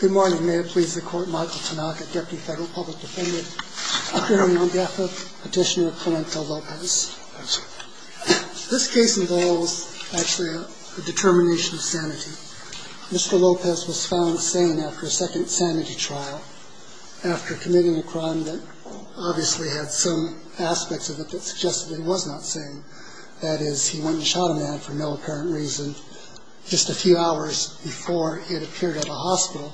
Good morning. May it please the Court, Michael Tanaka, Deputy Federal Public Defendant, apparently known by Ethel, petitioner of Clementa Lopez. This case involves actually a determination of sanity. Mr. Lopez was found sane after a second sanity trial, after committing a crime that obviously had some aspects of it that suggested he was not sane. That is, he went and shot a man for no apparent reason just a few hours before he had appeared at a hospital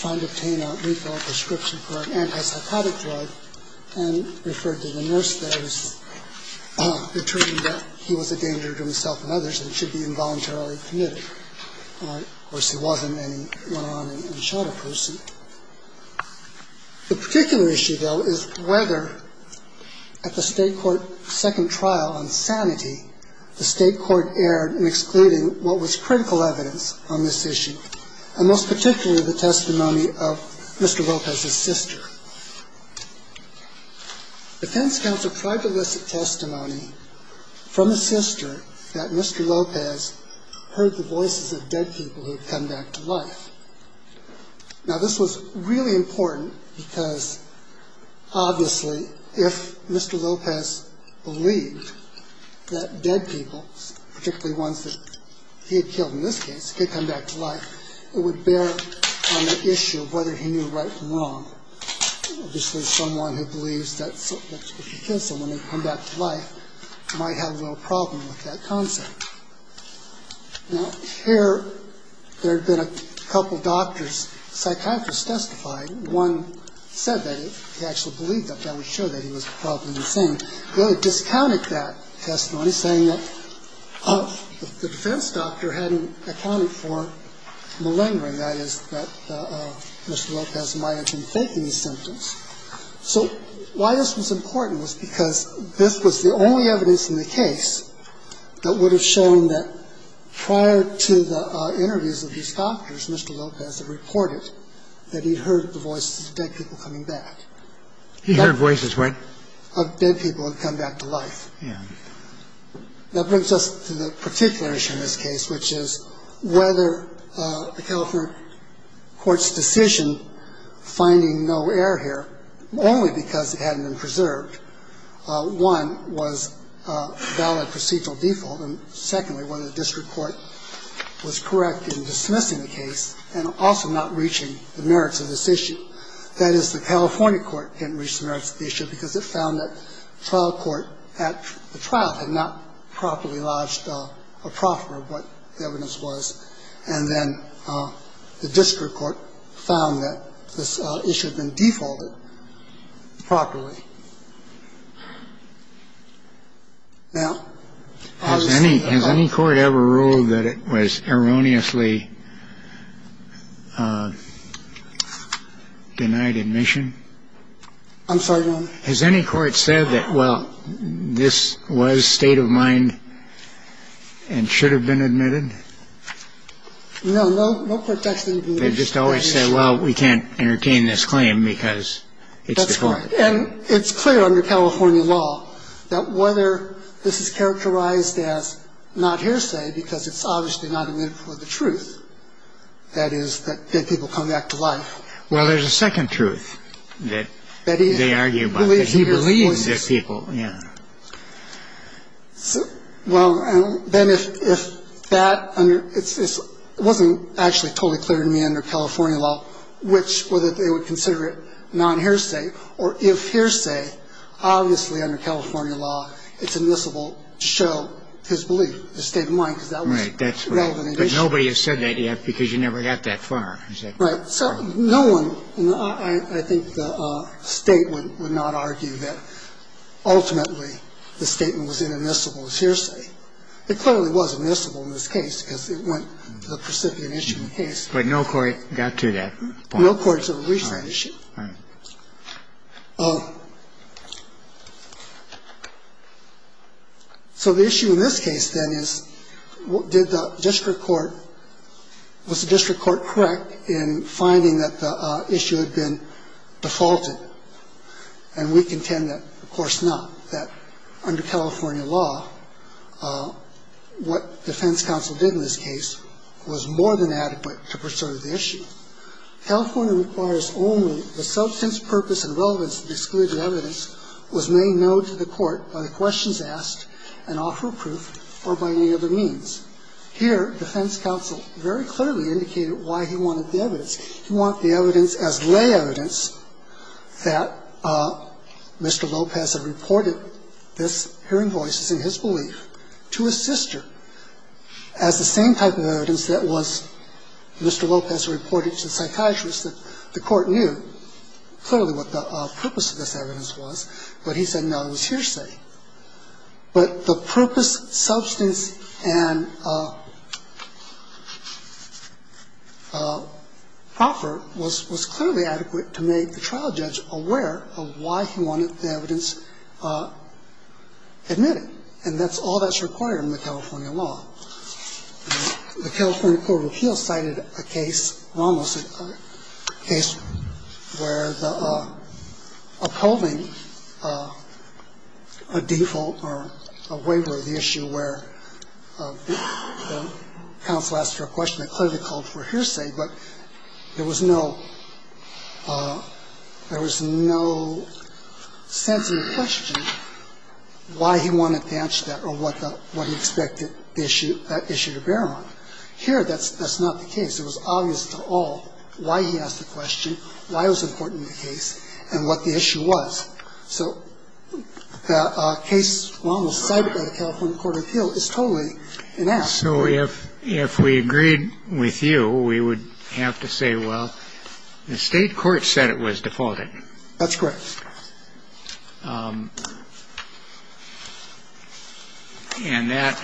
trying to obtain a lethal prescription for an antipsychotic drug and referred to the nurse there as determining that he was a danger to himself and others and should be involuntarily committed. Of course, he wasn't, and he went on and shot a person. The particular issue, though, is whether at the State Court second trial on sanity, the State Court erred in excluding what was critical evidence on this issue, and most particularly the testimony of Mr. Lopez's sister. Defense counsel tried to elicit testimony from his sister that Mr. Lopez heard the voices of dead people who had come back to life. Now, this was really important because Obviously, if Mr. Lopez believed that dead people, particularly ones that he had killed in this case, had come back to life, it would bear on the issue of whether he knew right from wrong. Obviously, someone who believes that if you kill someone, they come back to life might have a little problem with that concept. Now, here there had been a couple doctors, psychiatrists, testifying. One said that if he actually believed that, that would show that he was probably insane. They discounted that testimony, saying that the defense doctor hadn't accounted for malingering, that is, that Mr. Lopez might have been faking his symptoms. So why this was important was because this was the only evidence in the case that would have shown that prior to the interviews of these doctors, Mr. Lopez had reported that he heard the voices of dead people coming back. He heard voices, right? Of dead people who had come back to life. Yeah. That brings us to the particular issue in this case, which is whether the California court's decision finding no error here, only because it hadn't been preserved, one, was a valid procedural default, and secondly, whether the district court was correct in dismissing the case and also not reaching the merits of this issue. That is, the California court didn't reach the merits of the issue because it found that trial court at the trial had not properly lodged a proffer of what the evidence was. And then the district court found that this issue had been defaulted properly. Now, I'll just say that. Has any court ever ruled that it was erroneously denied admission? I'm sorry, Your Honor. Has any court said that, well, this was state of mind and should have been admitted? No. No. No court has said that. They just always say, well, we can't entertain this claim because it's default. That's right. And it's clear under California law that whether this is characterized as non-hearsay because it's obviously not admittable of the truth, that is, that dead people come back to life. Well, there's a second truth that they argue about, that he believes dead people. Yeah. Well, then if that under – it wasn't actually totally clear to me under California law that this was inaudible of the truth, but it was inaudible of the truth, then they would have to show it to the state of mind, which – whether they would consider it non-hearsay or if hearsay, obviously under California law, it's admissible to show his belief, the state of mind, because that was relevant admission. Right. But nobody has said that yet because you never got that far. Right. So no one – I think the State would not argue that ultimately the statement was inadmissible as hearsay. It clearly was admissible in this case because it went to the precipient issue case. But no court got to that point. No court to reach that issue. All right. All right. So the issue in this case, then, is did the district court – was the district court correct in finding that the issue had been defaulted? And we contend that, of course, not, that under California law, what defense counsel did in this case was more than adequate to preserve the issue. California requires only the substance, purpose, and relevance of the excluded evidence was made known to the court by the questions asked and offer approved or by any other means. Here, defense counsel very clearly indicated why he wanted the evidence. He wanted the evidence as lay evidence that Mr. Lopez had reported this hearing voice as in his belief to his sister as the same type of evidence that was Mr. Lopez reported to the psychiatrist that the court knew clearly what the purpose of this evidence was, but he said, no, it was hearsay. But the purpose, substance, and offer was clearly adequate to make the trial judge aware of why he wanted the evidence admitted, and that's all that's required in the California law. The California Court of Appeals cited a case, Ramos's case, where the upholding of a default or a waiver of the issue where counsel asked for a question that clearly called for hearsay, but there was no sense in the question why he wanted to answer that or what he expected that issue to bear on. Here, that's not the case. It was obvious to all why he asked the question, why it was important in the case, and what the issue was. So the case Ramos cited by the California Court of Appeals is totally inept. So if we agreed with you, we would have to say, well, the State court said it was defaulted. That's correct. And that,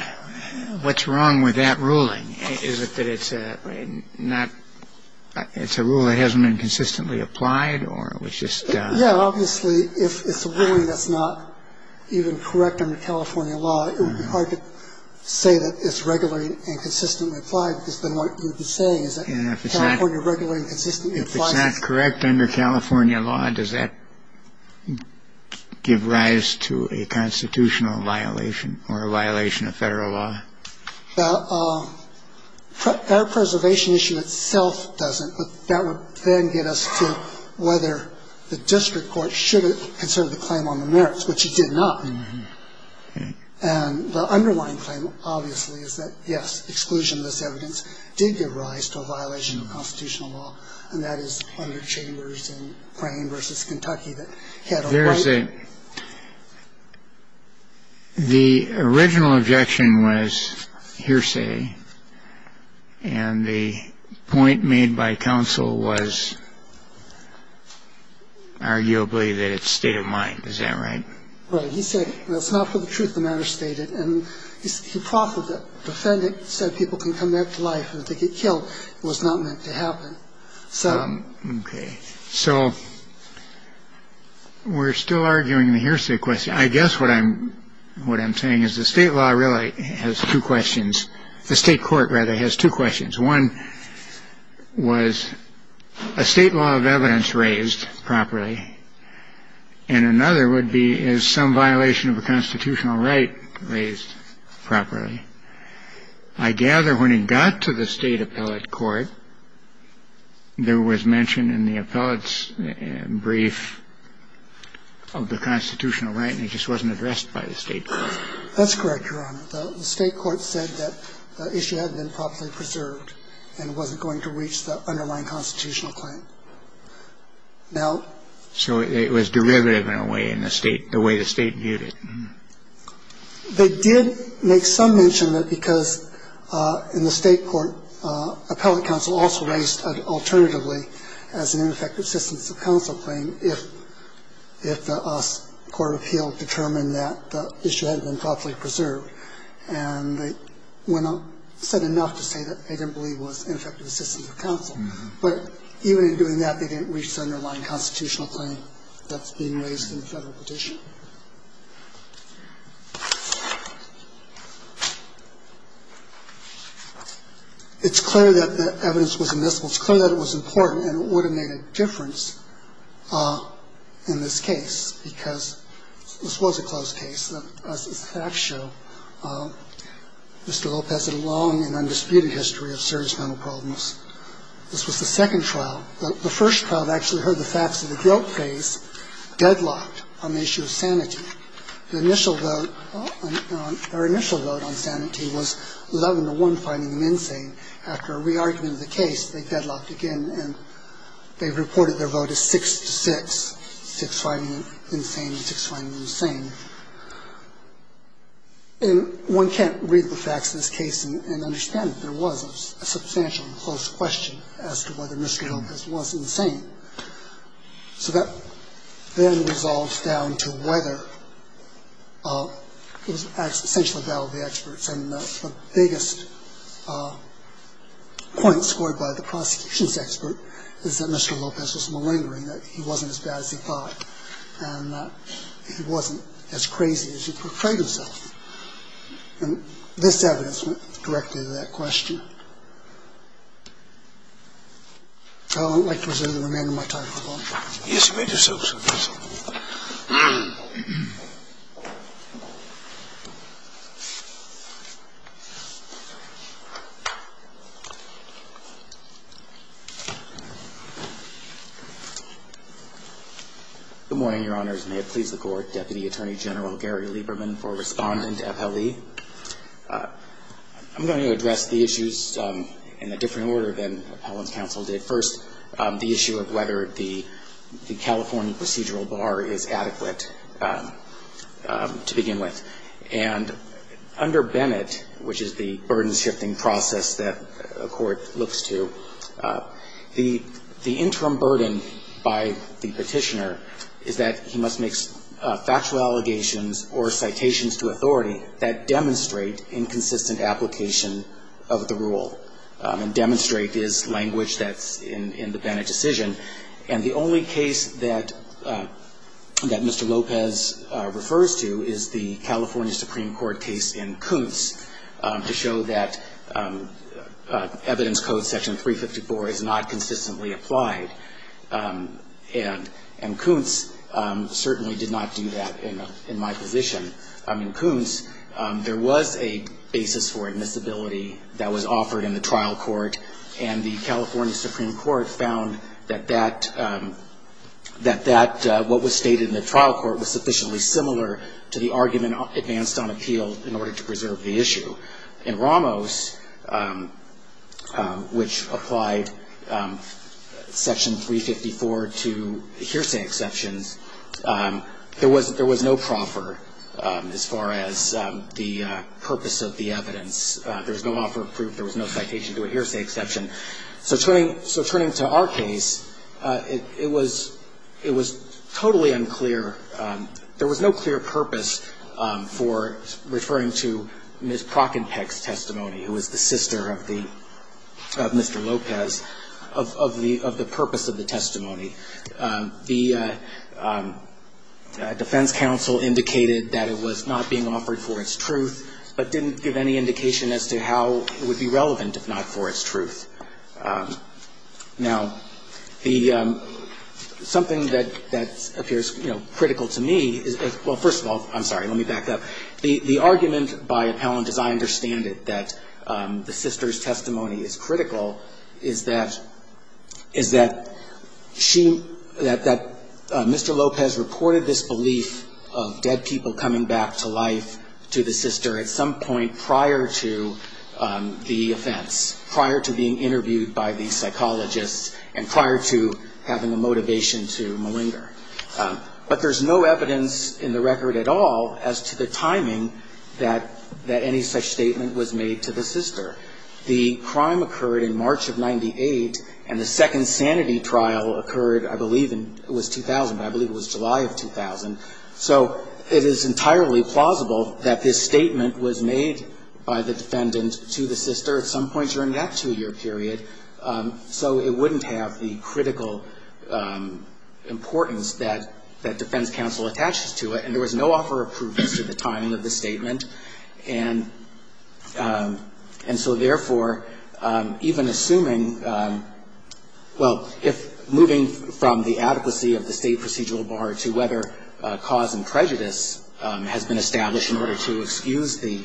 what's wrong with that ruling? Is it that it's not, it's a rule that hasn't been consistently applied or it was just the State court's ruling that it's not a rule that's consistent with the State law? It's just a rule that's not consistent with the State law? Yeah. I mean, obviously, if it's a ruling that's not even correct under California law, it would be hard to say that it's regularly and consistently applied because then what you'd be saying is that California regularly and consistently applies it. The district court should have considered the claim on the merits, which it did not. And the underlying claim, obviously, is that, yes, exclusion of this evidence did give rise to a violation of constitutional law, and that is under Chambers and Brain v. Kentucky that had a right. The original objection was hearsay, and the point made by counsel was arguably that it's state of mind. Is that right? Right. He said it's not for the truth, the matter stated, and he proffered to defend it so people can come back to life, and if they get killed, it was not meant to happen. OK. So we're still arguing the hearsay question. I guess what I'm saying is the state law really has two questions. The state court, rather, has two questions. One was a state law of evidence raised properly, and another would be is some violation of a constitutional right raised properly. I gather when it got to the state appellate court, there was mention in the appellate's brief of the constitutional right, and it just wasn't addressed by the state court. That's correct, Your Honor. The state court said that the issue hadn't been properly preserved and wasn't going to reach the underlying constitutional claim. Now ---- So it was derivative in a way in the state, the way the state viewed it. They did make some mention that because in the state court, appellate counsel also raised alternatively as an ineffective assistance of counsel claim if the court of appeal determined that the issue hadn't been properly preserved, and they said enough to say that they didn't believe it was ineffective assistance of counsel. But even in doing that, they didn't reach the underlying constitutional claim that's being raised in the federal petition. It's clear that the evidence was admissible. It's clear that it was important, and it would have made a difference in this case because this was a closed case. As the facts show, Mr. Lopez had a long and undisputed history of serious mental problems. This was the second trial. The first trial actually heard the facts of the guilt phase, deadlocked on the issue of sanity. The initial vote on sanity was 11 to 1, finding him insane. After a re-argument of the case, they deadlocked again, and they reported their vote as 6 to 6, 6 finding him insane and 6 finding him sane. And one can't read the facts of this case and understand that there was a substantial and close question as to whether Mr. Lopez was insane. So that then resolves down to whether it was essentially a battle of the experts, and the biggest point scored by the prosecution's expert is that Mr. Lopez was malingering, that he wasn't as bad as he thought, and that he wasn't as crazy as he portrayed himself. And this evidence went directly to that question. I would like to reserve the remainder of my time if I may. Yes, Your Honor. Good morning, Your Honors. May it please the Court. Deputy Attorney General Gary Lieberman for Respondent, FLE. I'm going to address the issues in a different order than Appellant's counsel did. First, the issue of whether the California procedural bar is adequate to begin with. And under Bennett, which is the burden-shifting process that a court looks to, the interim burden by the Petitioner is that he must make factual allegations or citations to authority that demonstrate inconsistent application of the rule and demonstrate his language that's in the Bennett decision. And the only case that Mr. Lopez refers to is the California Supreme Court case in Kuntz to show that evidence code section 354 is not consistently applied. And Kuntz certainly did not do that in my position. In Kuntz, there was a basis for admissibility that was offered in the trial court, and the California Supreme Court found that that, what was stated in the trial court, was sufficiently similar to the argument advanced on appeal in order to preserve the issue. In Ramos, which applied section 354 to hearsay exceptions, there was no proffer as far as the purpose of the evidence. There was no offer of proof, there was no citation to a hearsay exception. So turning to our case, it was totally unclear. There was no clear purpose for referring to Ms. Prockenpeck's testimony, who was the sister of the Mr. Lopez, of the purpose of the testimony. The defense counsel indicated that it was not being offered for its truth, but didn't give any indication as to how it would be relevant if not for its truth. Now, something that appears critical to me is, well, first of all, I'm sorry, let me back up. The argument by appellant, as I understand it, that the sister's testimony is critical, is that she, that Mr. Lopez reported this belief of dead people coming back to life to the sister at some point prior to the offense, prior to being interviewed by the psychologists, and prior to having a motivation to malinger. But there's no evidence in the record at all as to the timing that any such statement was made to the sister. The crime occurred in March of 98, and the second sanity trial occurred, I believe, in, it was 2000, I believe it was July of 2000. So it is entirely plausible that this statement was made by the defendant to the sister at some point during that two-year period, so it wouldn't have the critical importance that defense counsel attaches to it. And there was no offer of proof as to the timing of the statement. And so, therefore, even assuming, well, if moving from the adequacy of the State procedural bar to whether cause and prejudice has been established in order to excuse the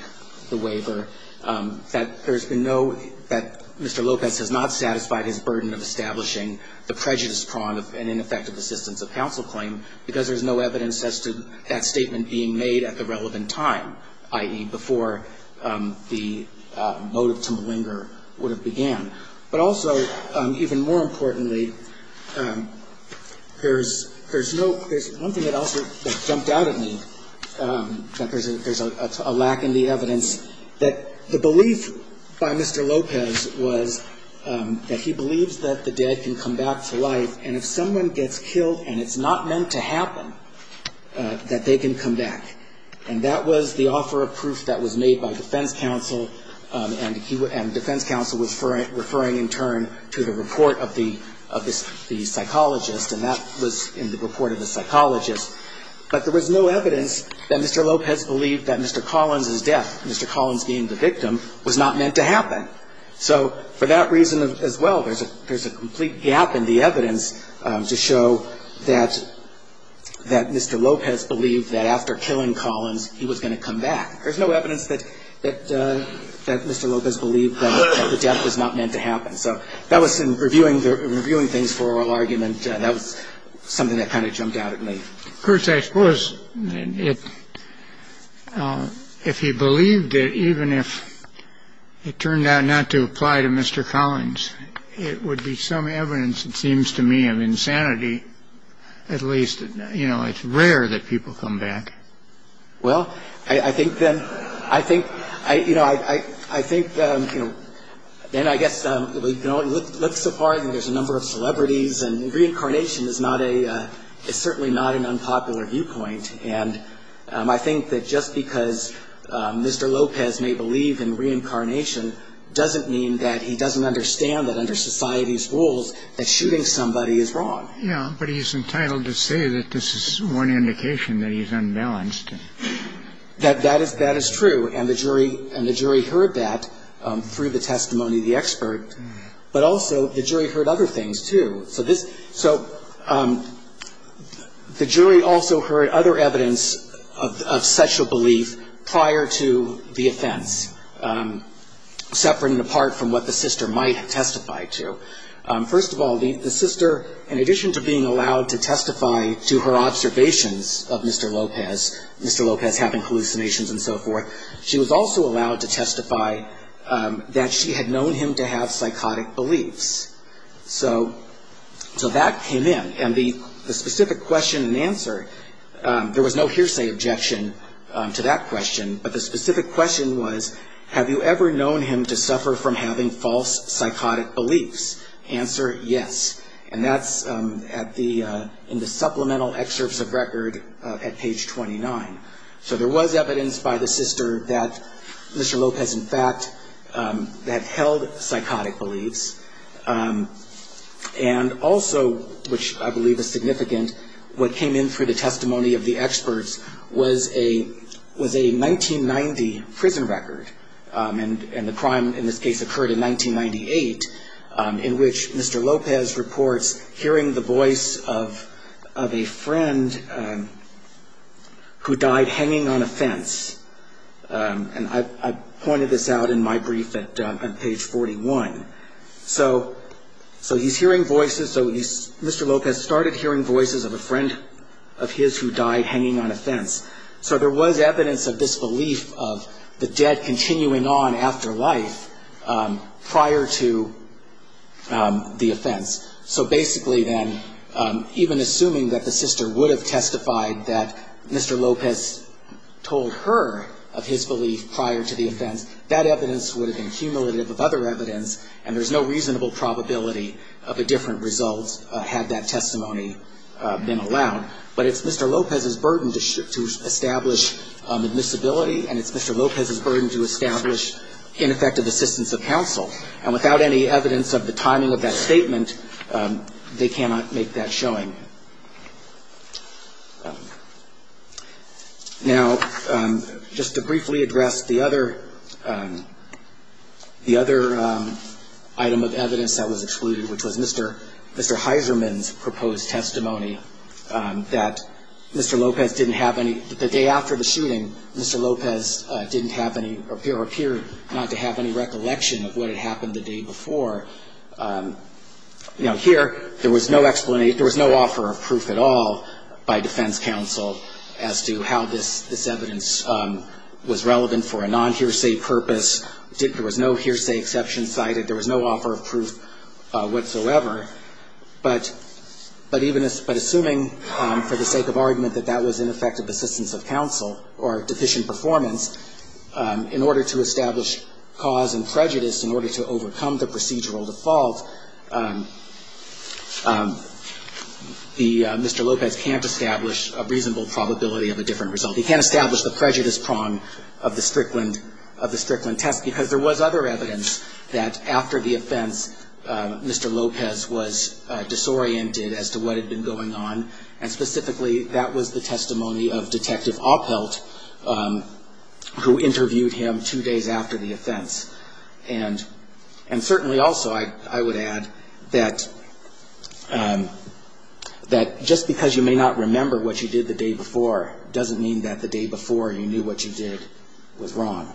waiver, that there's been no, that Mr. Lopez has not satisfied his burden of establishing the prejudice prong of an ineffective assistance of counsel claim because there's no evidence as to that statement being made at the relevant time, i.e., before the motive to malinger would have began. But also, even more importantly, there's no, there's one thing that also jumped out at me, that there's a lack in the evidence, that the belief by Mr. Lopez was that he believes that the dead can come back to life, and if someone gets killed and it's not meant to happen, that they can come back. And that was the offer of proof that was made by defense counsel, and defense counsel was referring in turn to the report of the psychologist, and that was in the report of the psychologist. But there was no evidence that Mr. Lopez believed that Mr. Collins' death, Mr. Collins being the victim, was not meant to happen. So for that reason as well, there's a complete gap in the evidence to show that Mr. Lopez believed that after killing Collins, he was going to come back. There's no evidence that Mr. Lopez believed that the death was not meant to happen. So that was in reviewing things for oral argument, that was something that kind of jumped out at me. Of course, I suppose it, if he believed it, even if it turned out not to apply to Mr. Collins, it would be some evidence, it seems to me, of insanity. At least, you know, it's rare that people come back. Well, I think then, I think, you know, I think, you know, then I guess, you know, it looks so far as there's a number of celebrities, and reincarnation is not a, it's certainly not an unpopular viewpoint. And I think that just because Mr. Lopez may believe in reincarnation doesn't mean that he doesn't understand that under society's rules that shooting somebody is wrong. Yeah. But he's entitled to say that this is one indication that he's unbalanced. That is true. And the jury heard that through the testimony of the expert. But also the jury heard other things, too. So this, so the jury also heard other evidence of sexual belief prior to the offense, separate and apart from what the sister might testify to. First of all, the sister, in addition to being allowed to testify to her observations of Mr. Lopez, Mr. Lopez having hallucinations and so forth, she was also allowed to testify that she had known him to have psychotic beliefs. So that came in. And the specific question and answer, there was no hearsay objection to that question, but the specific question was, have you ever known him to suffer from having false psychotic beliefs? Answer, yes. And that's in the supplemental excerpts of record at page 29. So there was evidence by the sister that Mr. Lopez, in fact, had held psychotic beliefs. And also, which I believe is significant, what came in through the testimony of the experts was a 1990 prison record. And the crime in this case occurred in 1998, in which Mr. Lopez reports hearing the voice of a friend who died hanging on a fence. And I pointed this out in my brief at page 41. So he's hearing voices, so Mr. Lopez started hearing voices of a friend of his who died hanging on a fence. So there was evidence of this belief of the dead continuing on after life prior to the offense. So basically then, even assuming that the sister would have testified that Mr. Lopez told her of his belief prior to the offense, that evidence would have been cumulative of other evidence, and there's no reasonable probability of a different result had that testimony been allowed. But it's Mr. Lopez's burden to establish admissibility, and it's Mr. Lopez's burden to establish ineffective assistance of counsel. And without any evidence of the timing of that statement, they cannot make that showing. Now, just to briefly address the other item of evidence that was excluded, which was Mr. Heiserman's proposed testimony, that Mr. Lopez didn't have any, the day after the shooting, Mr. Lopez didn't have any, or appeared not to have any recollection of what had happened the day before. You know, here, there was no explanation, there was no offer of proof at all by defense counsel as to how this evidence was relevant for a non-hearsay purpose. There was no hearsay exception cited. There was no offer of proof whatsoever. But even, but assuming for the sake of argument that that was ineffective assistance of counsel or deficient performance, in order to establish cause and prejudice, in order to overcome the procedural default, the, Mr. Lopez can't establish a reasonable probability of a different result. He can't establish the prejudice prong of the Strickland, of the Strickland test, because there was other evidence that after the offense, Mr. Lopez was disoriented as to what had been going on. And specifically, that was the testimony of Detective Oppelt, who interviewed him two days after the offense. And certainly also, I would add, that just because you may not remember what you did the day before, doesn't mean that the day before you knew what you did was wrong.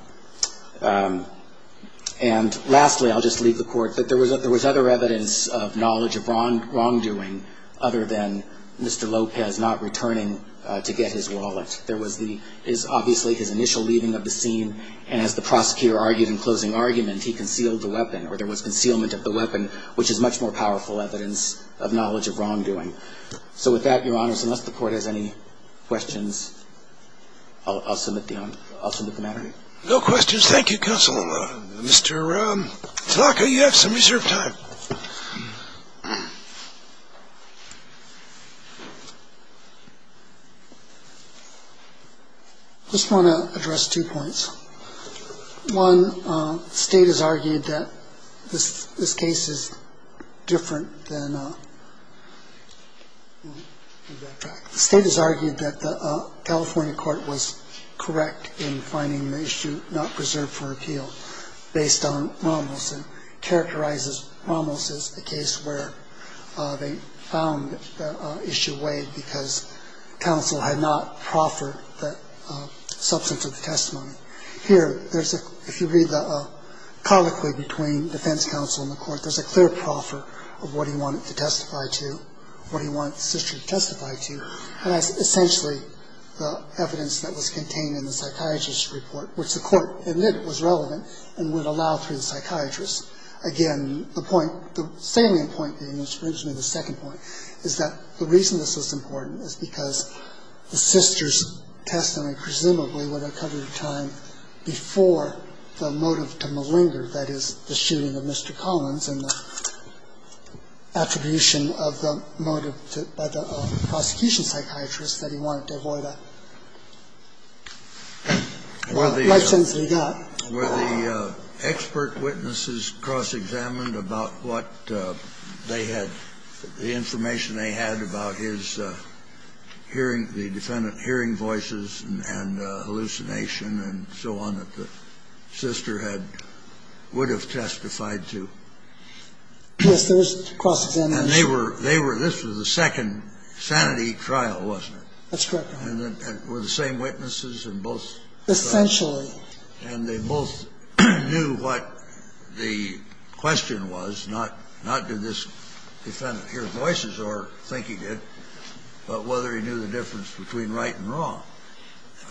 And lastly, I'll just leave the court, that there was other evidence of knowledge of wrongdoing, other than Mr. Lopez not returning to get his wallet. There was the, is obviously his initial leaving of the scene, and as the prosecutor argued in closing argument, he concealed the weapon, or there was concealment of the weapon, which is much more powerful evidence of knowledge of wrongdoing. So with that, Your Honors, unless the court has any questions, I'll submit the matter. No questions. Thank you, Counsel. Mr. Tanaka, you have some reserved time. I just want to address two points. One, the State has argued that this case is different than, well, let me go back. The State has argued that the California court was correct in finding the issue not preserved for appeal based on Rommel's, and characterizes Rommel's as the case where they found the issue weighed because counsel had not proffered the substance of the testimony. Here, there's a, if you read the colloquy between defense counsel and the court, there's a clear proffer of what he wanted to testify to, what he wanted the sister to testify to, and that's essentially the evidence that was contained in the psychiatrist's report, which the court admitted was relevant and would allow through the psychiatrist. Again, the point, the salient point being, which brings me to the second point, is that the reason this is important is because the sister's testimony, presumably, would have covered time before the motive to malinger, that is, the shooting of Mr. Collins and the attribution of the motive by the prosecution psychiatrist that he wanted to avoid a life sentence that he got. Kennedy, where the expert witnesses cross-examined about what they had, the information they had about his hearing, the defendant hearing voices and hallucination and so on that the sister had, would have testified to. Yes, there was cross-examination. And they were, they were, this was the second sanity trial, wasn't it? That's correct, Your Honor. And were the same witnesses in both trials? Essentially. And they both knew what the question was, not, not did this defendant hear voices or think he did, but whether he knew the difference between right and wrong.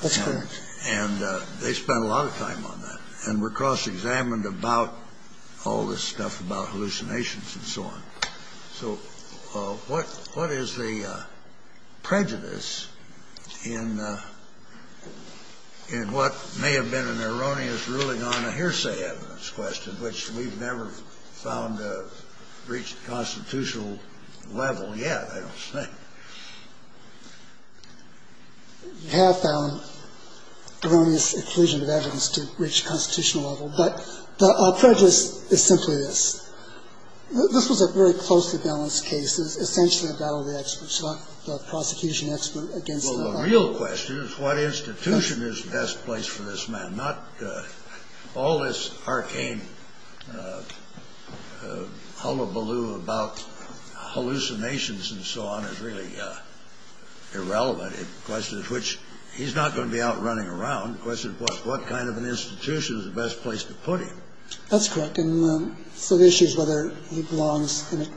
That's correct. And they spent a lot of time on that and were cross-examined about all this stuff about hallucinations and so on. So what, what is the prejudice in, in what may have been an erroneous ruling on a hearsay evidence question, which we've never found to reach the constitutional level yet, I don't think. We have found erroneous inclusion of evidence to reach the constitutional level, but the prejudice is simply this. This was a very closely balanced case. It was essentially a battle of the experts, not the prosecution expert against the defendant. Well, the real question is what institution is best placed for this man, not all this arcane hullabaloo about hallucinations and so on is really irrelevant. The question is which, he's not going to be out running around. The question is what kind of an institution is the best place to put him. That's correct. And so the issue is whether he belongs in an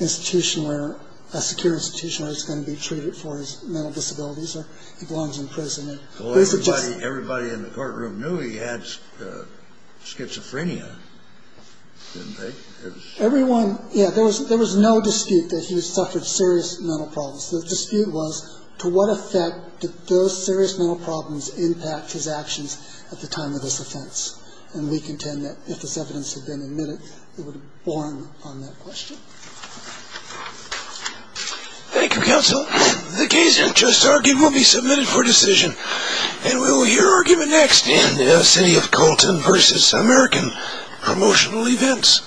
institution where, a secure institution where he's going to be treated for his mental disabilities or he belongs in prison. The question is whether he belongs in an institution where he's going to be treated for his mental disabilities or he belongs in prison. Well, everybody, everybody in the courtroom knew he had schizophrenia, didn't they? Everyone, yeah, there was, there was no dispute that he suffered serious mental problems. The dispute was to what effect did those serious mental problems impact his actions at the time of this offense. And we contend that if this evidence had been admitted, it would have borne on that question. Thank you, counsel. The case you just argued will be submitted for decision. And we will hear argument next in the city of Colton versus American promotional events.